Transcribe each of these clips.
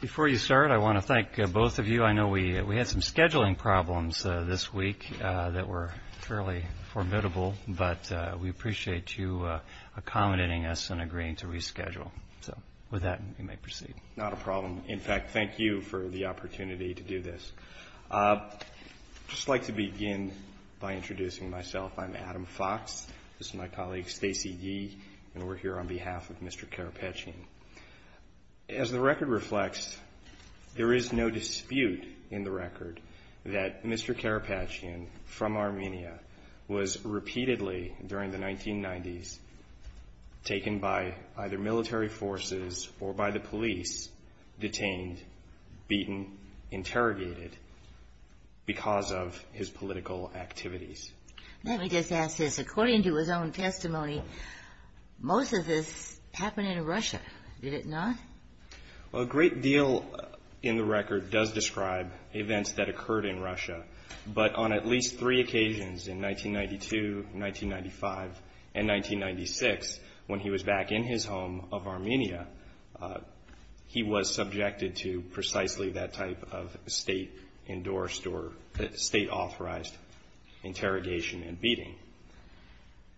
Before you start, I want to thank both of you. I know we had some scheduling problems this week that were fairly formidable, but we appreciate you accommodating us and agreeing to reschedule. So with that, we may proceed. Not a problem. In fact, thank you for the opportunity to do this. I'd just like to begin by introducing myself. I'm Adam Fox. This is my colleague Stacey Yee, and we're here on behalf of Mr. Karapetyan. As the record reflects, there is no dispute in the record that Mr. Karapetyan, from Armenia, was repeatedly, during the 1990s, taken by either military forces or by the police, detained, beaten, interrogated because of his political activities. Let me just ask this. According to his own testimony, most of this happened in Russia, did it not? Well, a great deal in the record does describe events that occurred in Russia, but on at least three occasions in 1992, 1995, and 1996, when he was back in his home of Armenia, he was subjected to precisely that type of State-endorsed or State-authorized interrogation and beating.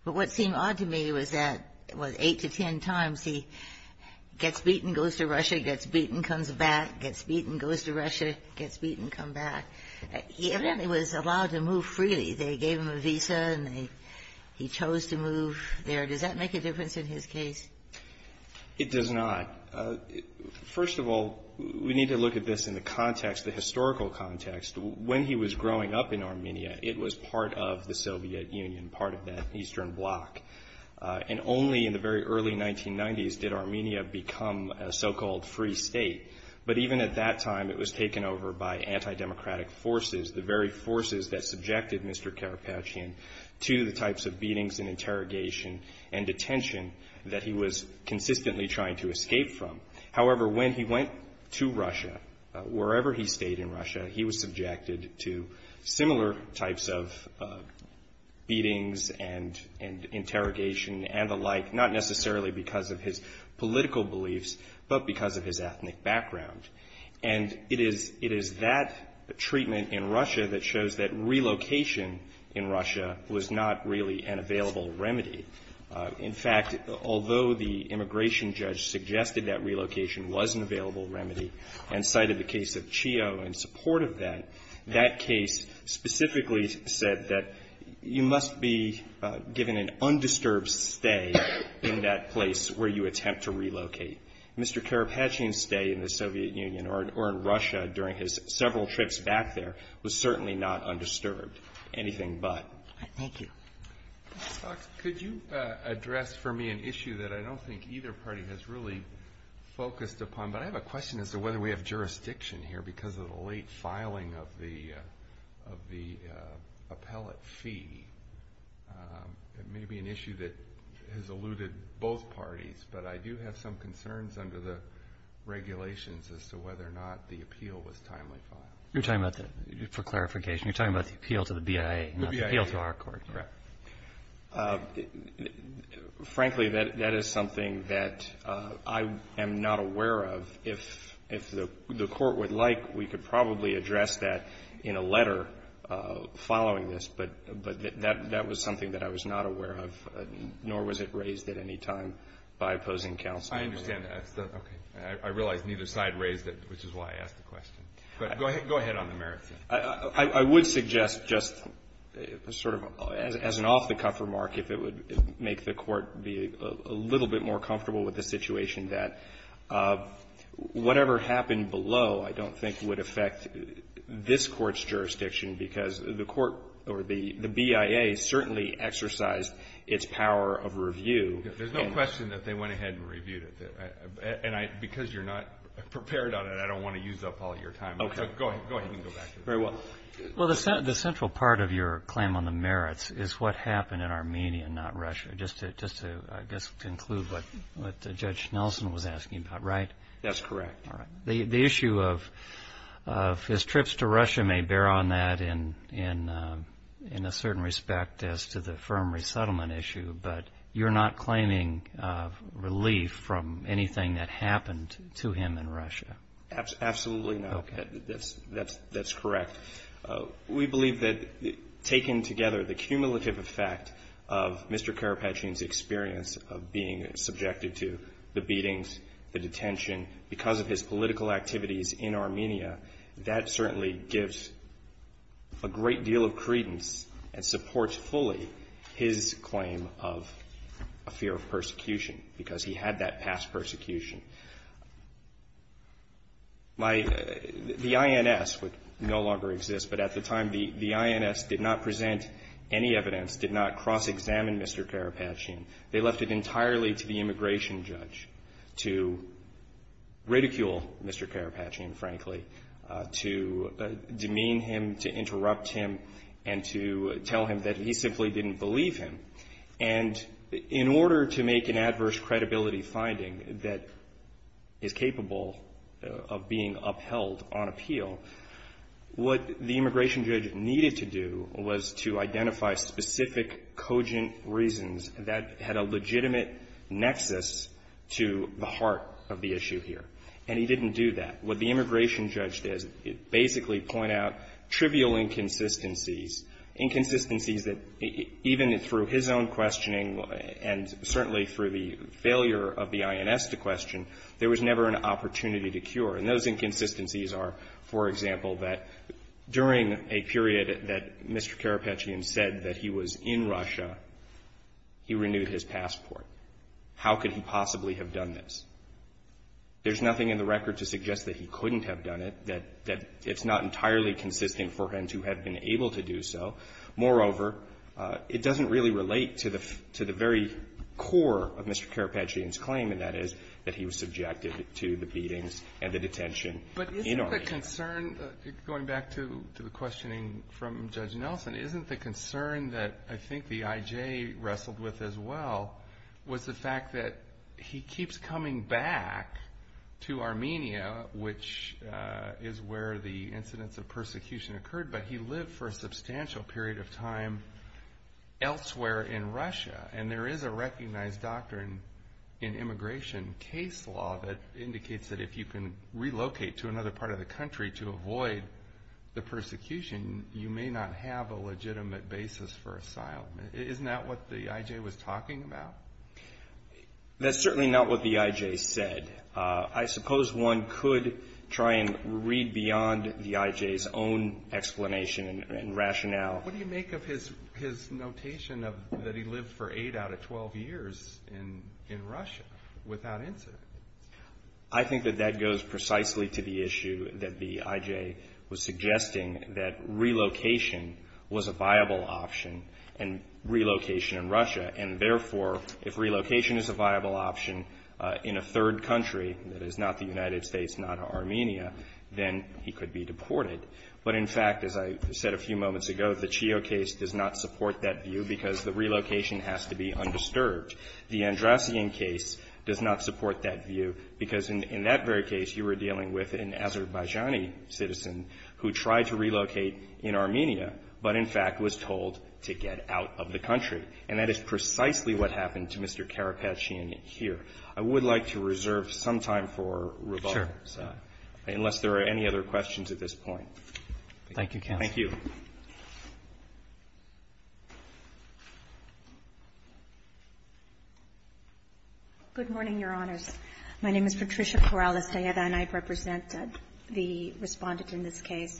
But what seemed odd to me was that, well, eight to ten times, he gets beaten, goes to Russia, gets beaten, comes back, gets beaten, goes to Russia, gets beaten, come back. He evidently was allowed to move freely. They gave him a visa, and he chose to move there. Does that make a difference in his case? It does not. First of all, we need to look at this in the context, the historical context. When he was growing up in Armenia, it was part of the Soviet Union, part of the Eastern Bloc. And only in the very early 1990s did Armenia become a so-called free state. But even at that time, it was taken over by anti-democratic forces, the very forces that subjected Mr. Karapetyan to the types of beatings and interrogation and detention that he was consistently trying to escape from. However, when he went to Russia, wherever he stayed in Russia, he was subjected to similar types of beatings and interrogation and the like, not necessarily because of his political beliefs, but because of his ethnic background. And it is that treatment in Russia that shows that relocation in Russia was not really an available remedy. In fact, although the immigration judge suggested that relocation was an available remedy and cited the case of Chio in support of that, that case specifically said that you must be given an undisturbed stay in that place where you attempt to relocate. Mr. Karapetyan's stay in the Soviet Union or in Russia during his several trips back there was certainly not undisturbed, anything but. Thank you. Mr. Fox, could you address for me an issue that I don't think either party has really focused upon? But I have a question as to whether we have jurisdiction here because of the late filing of the appellate fee. It may be an issue that has eluded both parties, but I do have some concerns under the regulations as to whether or not the appeal was timely filed. You're talking about for clarification, you're talking about the appeal to the BIA, not the appeal to our court. Correct. Frankly, that is something that I am not aware of. If the court would like, we could probably address that in a letter following this, but that was something that I was not aware of, nor was it raised at any time by opposing counsel. I understand that. Okay. I realize neither side raised it, which is why I asked the question. But go ahead on the merits. I would suggest just sort of as an off-the-cuff remark, if it would make the Court be a little bit more comfortable with the situation, that whatever happened below I don't think would affect this Court's jurisdiction because the BIA certainly exercised its power of review. There's no question that they went ahead and reviewed it. Because you're not prepared on it, I don't want to use up all your time. Okay. Go ahead. You can go back. Very well. Well, the central part of your claim on the merits is what happened in Armenia, not Russia, just to conclude what Judge Nelson was asking about, right? That's correct. All right. The issue of his trips to Russia may bear on that in a certain respect as to the firm resettlement issue, but you're not claiming relief from anything that happened to him in Russia? Absolutely not. Okay. That's correct. We believe that taken together, the cumulative effect of Mr. Karapetchin's experience of being subjected to the beatings, the detention, because of his political activities in Armenia, that certainly gives a great deal of credence and supports fully his claim of a fear of persecution because he had that past persecution. My — the INS would no longer exist, but at the time, the INS did not present any evidence, did not cross-examine Mr. Karapetchin. They left it entirely to the immigration judge to ridicule Mr. Karapetchin, frankly, to demean him, to interrupt him, and to tell him that he simply didn't believe him. And in order to make an adverse credibility finding that is capable of being upheld on appeal, what the immigration judge needed to do was to identify specific cogent reasons that had a legitimate nexus to the heart of the issue here. And he didn't do that. What the immigration judge did is basically point out trivial inconsistencies, inconsistencies that even through his own questioning and certainly through the failure of the INS to question, there was never an opportunity to cure. And those inconsistencies are, for example, that during a period that Mr. Karapetchin said that he was in Russia, he renewed his passport. How could he possibly have done this? There's nothing in the record to suggest that he couldn't have done it, that it's not entirely consistent for him to have been able to do so. Moreover, it doesn't really relate to the very core of Mr. Karapetchin's claim, and that is that he was subjected to the beatings and the detention in Armenia. But isn't the concern, going back to the questioning from Judge Nelson, isn't the concern that I think the IJ wrestled with as well was the fact that he keeps coming back to Armenia, which is where the incidents of persecution occurred, but he lived for a substantial period of time elsewhere in Russia. And there is a recognized doctrine in immigration case law that indicates that if you can relocate to another part of the country to avoid the persecution, you may not have a legitimate basis for asylum. Isn't that what the IJ was talking about? That's certainly not what the IJ said. I suppose one could try and read beyond the IJ's own explanation and rationale. What do you make of his notation that he lived for eight out of 12 years in Russia without incident? I think that that goes precisely to the issue that the IJ was suggesting, that relocation was a viable option, and relocation in Russia, and therefore if relocation is a viable option in a third country, that is not the United States, not Armenia, then he could be deported. But in fact, as I said a few moments ago, the Chio case does not support that view because the relocation has to be undisturbed. The Andrasian case does not support that view because in that very case, you were dealing with an Azerbaijani citizen who tried to relocate in Armenia, but in fact was told to get out of the country. And that is precisely what happened to Mr. Karapetyan here. I would like to reserve some time for rebuttal. So unless there are any other questions at this point. Roberts. Thank you, counsel. Thank you. Good morning, Your Honors. My name is Patricia Corrales-Dayeda, and I represent the Respondent in this case.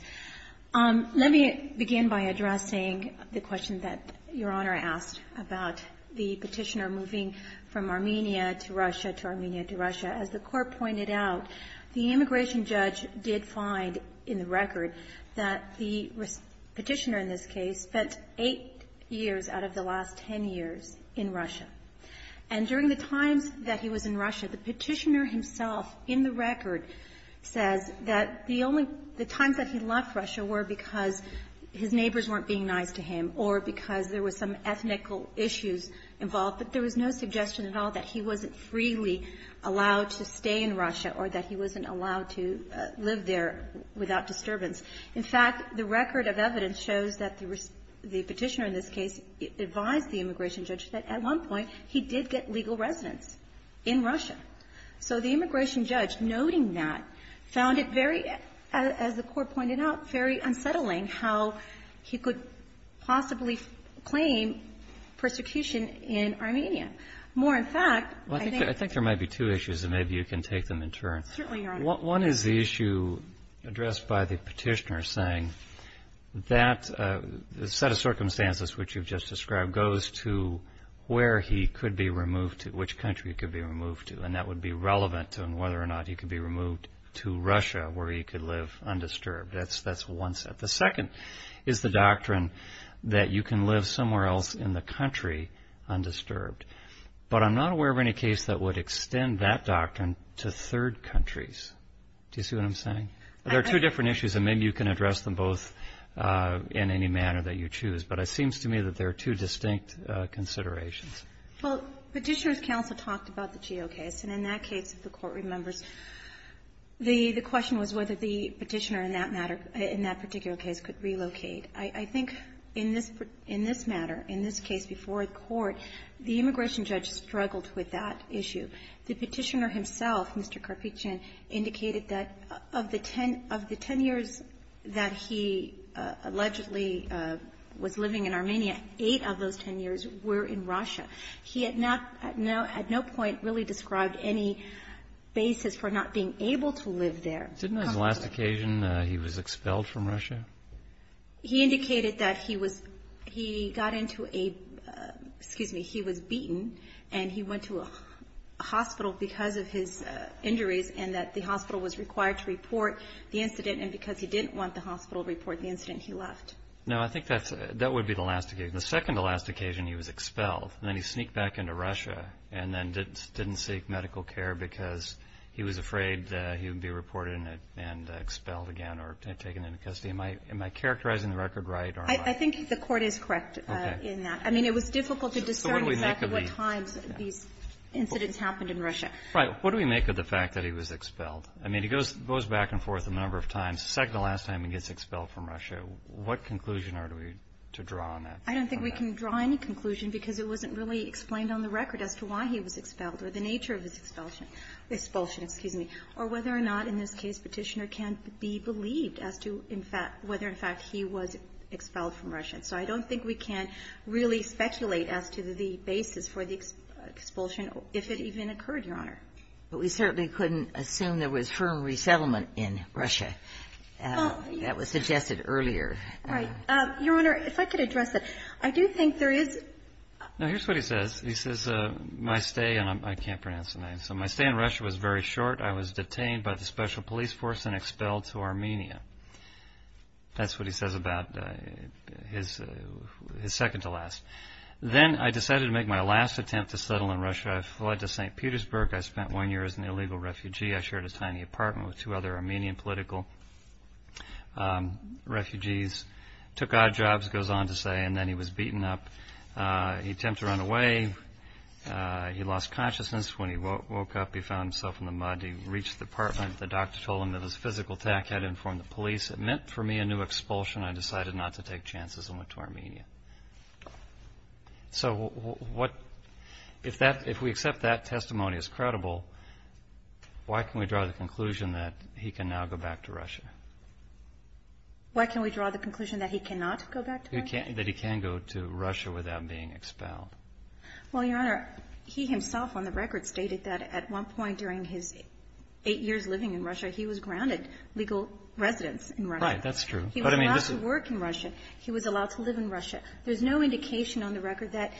Let me begin by addressing the question that Your Honor asked about the Petitioner moving from Armenia to Russia, to Armenia to Russia. As the Court pointed out, the immigration judge did find in the record that the Petitioner in this case spent eight years out of the last ten years in Russia. And during the times that he was in Russia, the Petitioner himself in the record says that the only the times that he left Russia were because his neighbors weren't being nice to him or because there was some ethnical issues involved, but there was no suggestion at all that he wasn't freely allowed to stay in Russia or that he wasn't allowed to live there without disturbance. In fact, the record of evidence shows that the Petitioner in this case advised the immigration judge that at one point he did get legal residence in Russia. So the immigration judge, noting that, found it very, as the Court pointed out, very unsettling how he could possibly claim persecution in Armenia. More in fact, I think there might be two issues, and maybe you can take them in turn. Certainly, Your Honor. One is the issue addressed by the Petitioner saying that the set of circumstances which you've just described goes to where he could be removed to, which country he could be removed to, and that would be relevant to whether or not he could be removed to Russia where he could live undisturbed. That's one set. The second is the doctrine that you can live somewhere else in the country undisturbed, but I'm not aware of any case that would extend that doctrine to third countries. Do you see what I'm saying? There are two different issues, and maybe you can address them both in any manner that you choose, but it seems to me that there are two distinct considerations. Well, Petitioner's counsel talked about the GEO case, and in that case, if the Court remembers, the question was whether the Petitioner in that matter, in that particular case, could relocate. I think in this matter, in this case before the Court, the immigration judge struggled with that issue. The Petitioner himself, Mr. Karpichyan, indicated that of the ten years that he allegedly was living in Armenia, eight of those ten years were in Russia. He had at no point really described any basis for not being able to live there. Didn't his last occasion, he was expelled from Russia? He indicated that he got into a, excuse me, he was beaten, and he went to a hospital because of his injuries, and that the hospital was required to report the incident, and because he didn't want the hospital to report the incident, he left. No, I think that would be the last occasion. The second to last occasion, he was expelled, and then he sneaked back into Russia and then didn't seek medical care because he was afraid he would be reported and expelled again or taken into custody. Am I characterizing the record right? I think the Court is correct in that. Okay. I mean, it was difficult to discern the fact of what times these incidents happened in Russia. Right. What do we make of the fact that he was expelled? I mean, he goes back and forth a number of times. The second to last time, he gets expelled from Russia. What conclusion are we to draw on that? I don't think we can draw any conclusion because it wasn't really explained on the record as to why he was expelled or the nature of his expulsion, excuse me, or whether or not in this case Petitioner can be believed as to, in fact, whether, in fact, he was expelled from Russia. And so I don't think we can really speculate as to the basis for the expulsion if it even occurred, Your Honor. But we certainly couldn't assume there was firm resettlement in Russia. That was suggested earlier. Right. Your Honor, if I could address that. I do think there is – Now, here's what he says. He says, my stay – and I can't pronounce the name. So my stay in Russia was very short. I was detained by the special police force and expelled to Armenia. That's what he says about his second to last. Then I decided to make my last attempt to settle in Russia. I fled to St. Petersburg. I spent one year as an illegal refugee. I shared a tiny apartment with two other Armenian political refugees. Took odd jobs, goes on to say. And then he was beaten up. He attempted to run away. He lost consciousness. When he woke up, he found himself in the mud. He reached the apartment. The doctor told him it was a physical attack. Had to inform the police. It meant for me a new expulsion. I decided not to take chances and went to Armenia. So if we accept that testimony as credible, why can we draw the conclusion that he can now go back to Russia? Why can we draw the conclusion that he cannot go back to Russia? That he can go to Russia without being expelled. Well, Your Honor, he himself on the record stated that at one point during his eight years living in Russia, he was granted legal residence in Russia. Right, that's true. He was allowed to work in Russia. He was allowed to live in Russia. There's no indication on the record that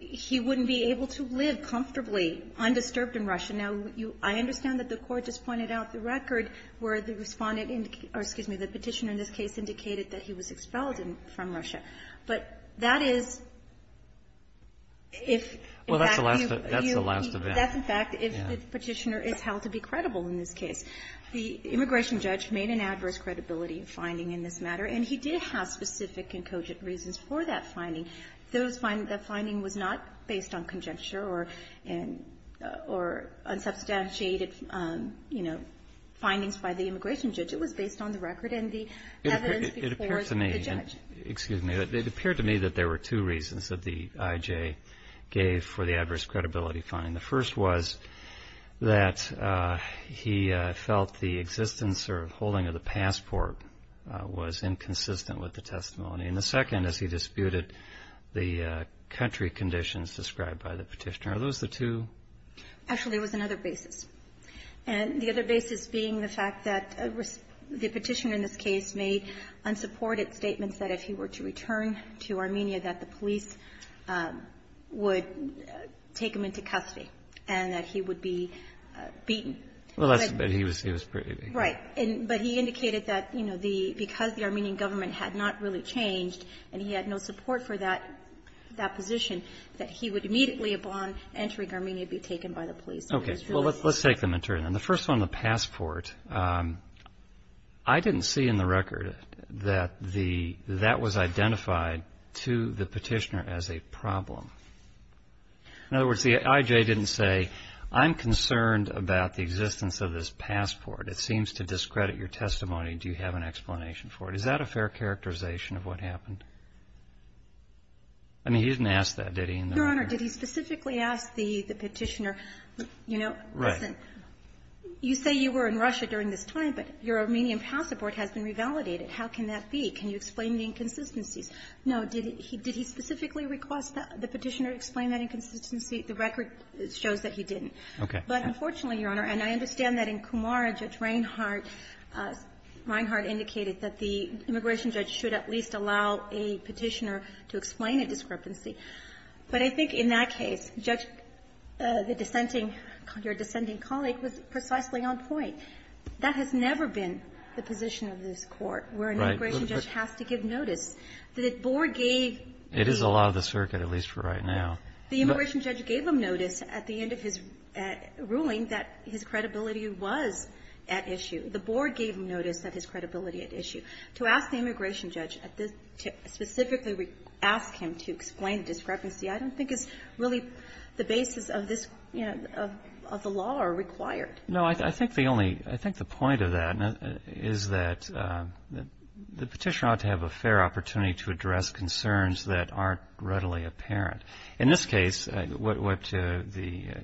he wouldn't be able to live comfortably, undisturbed in Russia. Now, I understand that the court just pointed out the record where the petitioner in this case indicated that he was expelled from Russia. But that is, in fact, if the petitioner is held to be credible in this case. The immigration judge made an adverse credibility finding in this matter, and he did have specific and cogent reasons for that finding. The finding was not based on conjecture or unsubstantiated, you know, findings by the immigration judge. It was based on the record and the evidence before the judge. Excuse me. It appeared to me that there were two reasons that the IJ gave for the adverse credibility finding. The first was that he felt the existence or holding of the passport was inconsistent with the testimony. And the second is he disputed the country conditions described by the petitioner. Are those the two? Actually, it was another basis. And the other basis being the fact that the petitioner in this case made unsupported statements that if he were to return to Armenia that the police would take him into custody and that he would be beaten. Well, that's a bit. He was pretty beaten. Right. But he indicated that, you know, because the Armenian government had not really changed and he had no support for that position, that he would immediately upon entering Armenia be taken by the police. Okay. Well, let's take them in turn. And the first one, the passport, I didn't see in the record that that was identified to the petitioner as a problem. In other words, the IJ didn't say, I'm concerned about the existence of this passport. It seems to discredit your testimony. Do you have an explanation for it? Is that a fair characterization of what happened? I mean, he didn't ask that, did he? Your Honor, did he specifically ask the petitioner? You know, right. You say you were in Russia during this time, but your Armenian passport has been revalidated. How can that be? Can you explain the inconsistencies? Did he specifically request that the petitioner explain that inconsistency? The record shows that he didn't. Okay. But unfortunately, Your Honor, and I understand that in Kumara, Judge Reinhart indicated that the immigration judge should at least allow a petitioner to explain a discrepancy. But I think in that case, Judge, the dissenting colleague was precisely on point. That has never been the position of this Court, where an immigration judge has to give notice. The board gave the immigration judge gave him notice at the end of his ruling that his credibility was at issue. The board gave him notice that his credibility at issue. To ask the immigration judge to specifically ask him to explain discrepancy I don't think is really the basis of this, you know, of the law or required. No. I think the only, I think the point of that is that the petitioner ought to have a fair opportunity to address concerns that aren't readily apparent. In this case, what the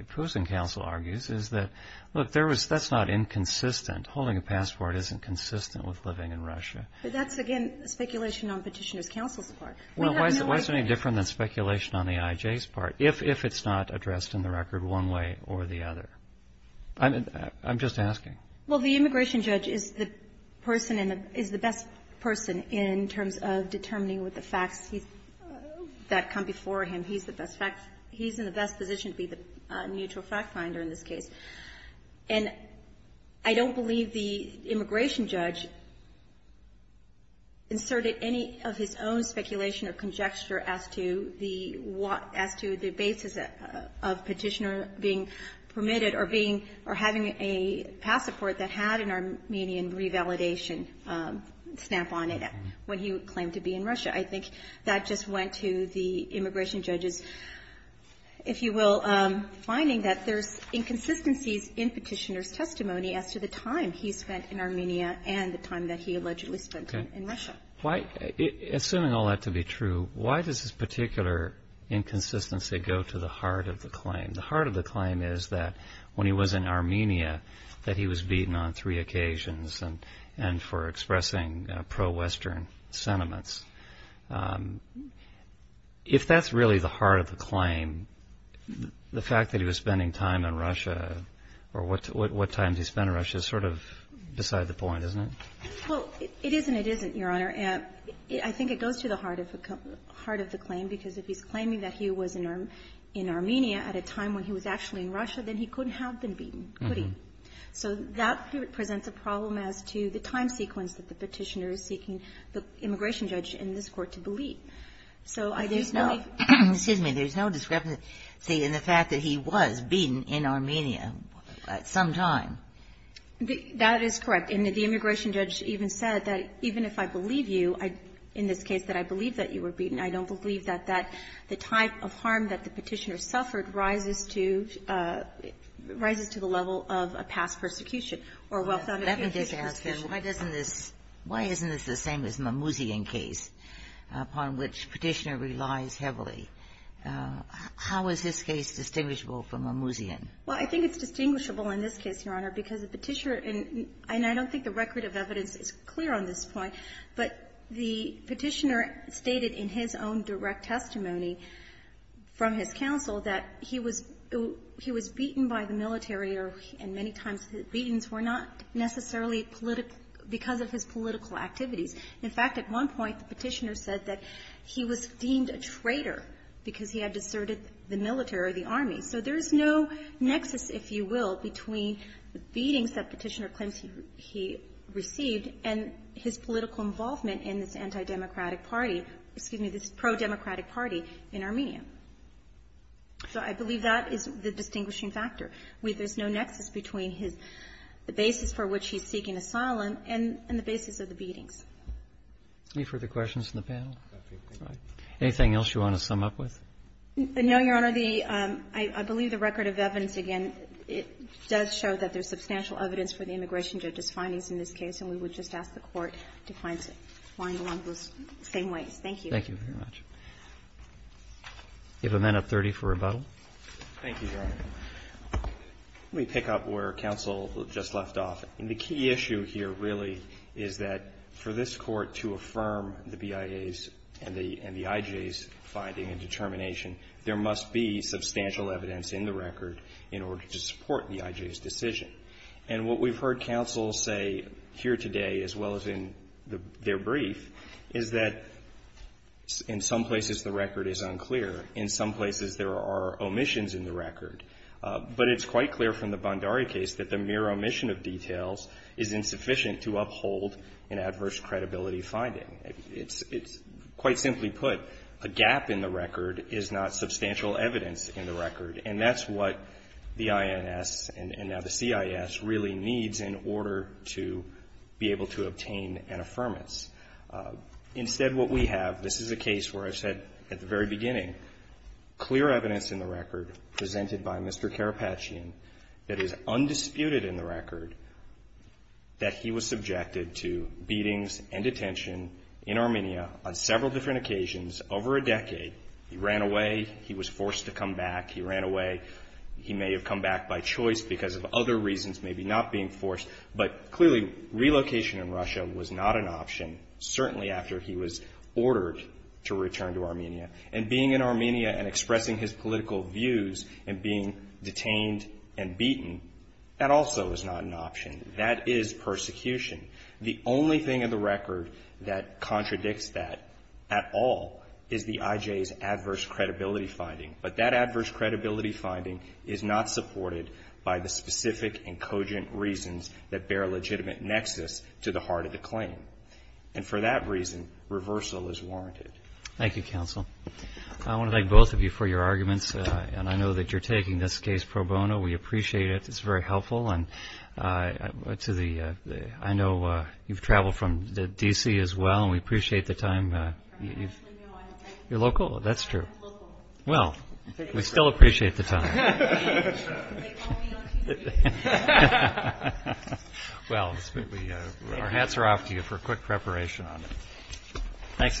opposing counsel argues is that, look, that's not inconsistent. Holding a passport isn't consistent with living in Russia. But that's, again, speculation on Petitioner's counsel's part. Well, why is it any different than speculation on the IJ's part, if it's not addressed in the record one way or the other? I'm just asking. the immigration judge is the person and is the best person in terms of determining with the facts that come before him. He's the best fact, he's in the best position to be the neutral fact finder in this case. And I don't believe the immigration judge inserted any of his own speculation or conjecture as to the basis of Petitioner being permitted or being, or having a passport that had an Armenian revalidation stamp on it when he claimed to be in Russia. I think that just went to the immigration judge's, if you will, finding that there's inconsistencies in Petitioner's testimony as to the time he spent in Armenia and the time that he allegedly spent in Russia. Assuming all that to be true, why does this particular inconsistency go to the heart of the claim? The heart of the claim is that when he was in Armenia, that he was beaten on three occasions and for expressing pro-Western sentiments. If that's really the heart of the claim, the fact that he was spending time in Russia or what time he spent in Russia is sort of beside the point, isn't it? Well, it is and it isn't, Your Honor. I think it goes to the heart of the claim because if he's claiming that he was in Armenia at a time when he was actually in Russia, then he couldn't have been beaten, could he? So that presents a problem as to the time sequence that the Petitioner is seeking the immigration judge in this Court to believe. So there's no way. Excuse me. There's no discrepancy in the fact that he was beaten in Armenia at some time. That is correct. And the immigration judge even said that even if I believe you, in this case that I believe that you were beaten, I don't believe that the type of harm that the Petitioner suffered rises to the level of a past persecution or a well-founded future persecution. Let me just ask him, why isn't this the same as Mamouzian case, upon which Petitioner relies heavily? How is this case distinguishable from Mamouzian? Well, I think it's distinguishable in this case, Your Honor, because the Petitioner and I don't think the record of evidence is clear on this point, but the Petitioner stated in his own direct testimony from his counsel that he was beaten by the military and many times the beatings were not necessarily because of his political activities. In fact, at one point the Petitioner said that he was deemed a traitor because he had deserted the military or the army. So there's no nexus, if you will, between the beatings that Petitioner claims he received and his political involvement in this anti-democratic party, excuse me, this pro-democratic party in Armenia. So I believe that is the distinguishing factor. There's no nexus between his basis for which he's seeking asylum and the basis of the beatings. Any further questions from the panel? Anything else you want to sum up with? No, Your Honor. I believe the record of evidence, again, it does show that there's substantial evidence for the immigration judge's findings in this case, and we would just ask the Court to find one of those same ways. Thank you. Thank you very much. You have amendment 30 for rebuttal. Thank you, Your Honor. Let me pick up where counsel just left off. The key issue here really is that for this Court to affirm the BIA's and the IJ's finding and determination, there must be substantial evidence in the record in order to support the IJ's decision. And what we've heard counsel say here today, as well as in their brief, is that in some places the record is unclear. In some places there are omissions in the record. But it's quite clear from the Bondari case that the mere omission of details is insufficient to uphold an adverse credibility finding. It's quite simply put, a gap in the record is not substantial evidence in the record, and that's what the INS and now the CIS really needs in order to be able to obtain an affirmance. Instead, what we have, this is a case where I said at the very beginning, clear evidence in the record presented by Mr. Karapatchian that is undisputed in the record, that he was subjected to beatings and detention in Armenia on several different occasions over a decade. He ran away. He was forced to come back. He ran away. He may have come back by choice because of other reasons, maybe not being forced. But clearly, relocation in Russia was not an option, certainly after he was ordered to return to Armenia. And being in Armenia and expressing his political views and being detained and beaten, that also is not an option. That is persecution. The only thing in the record that contradicts that at all is the IJ's adverse credibility finding. But that adverse credibility finding is not supported by the specific and cogent reasons that bear a legitimate nexus to the heart of the claim. And for that reason, reversal is warranted. Thank you, Counsel. I want to thank both of you for your arguments, and I know that you're taking this case pro bono. We appreciate it. It's very helpful. And I know you've traveled from D.C. as well, and we appreciate the time. I actually know. You're local? That's true. I'm local. Well, we still appreciate the time. They call me on TV. Well, our hats are off to you for quick preparation on it. Thanks again.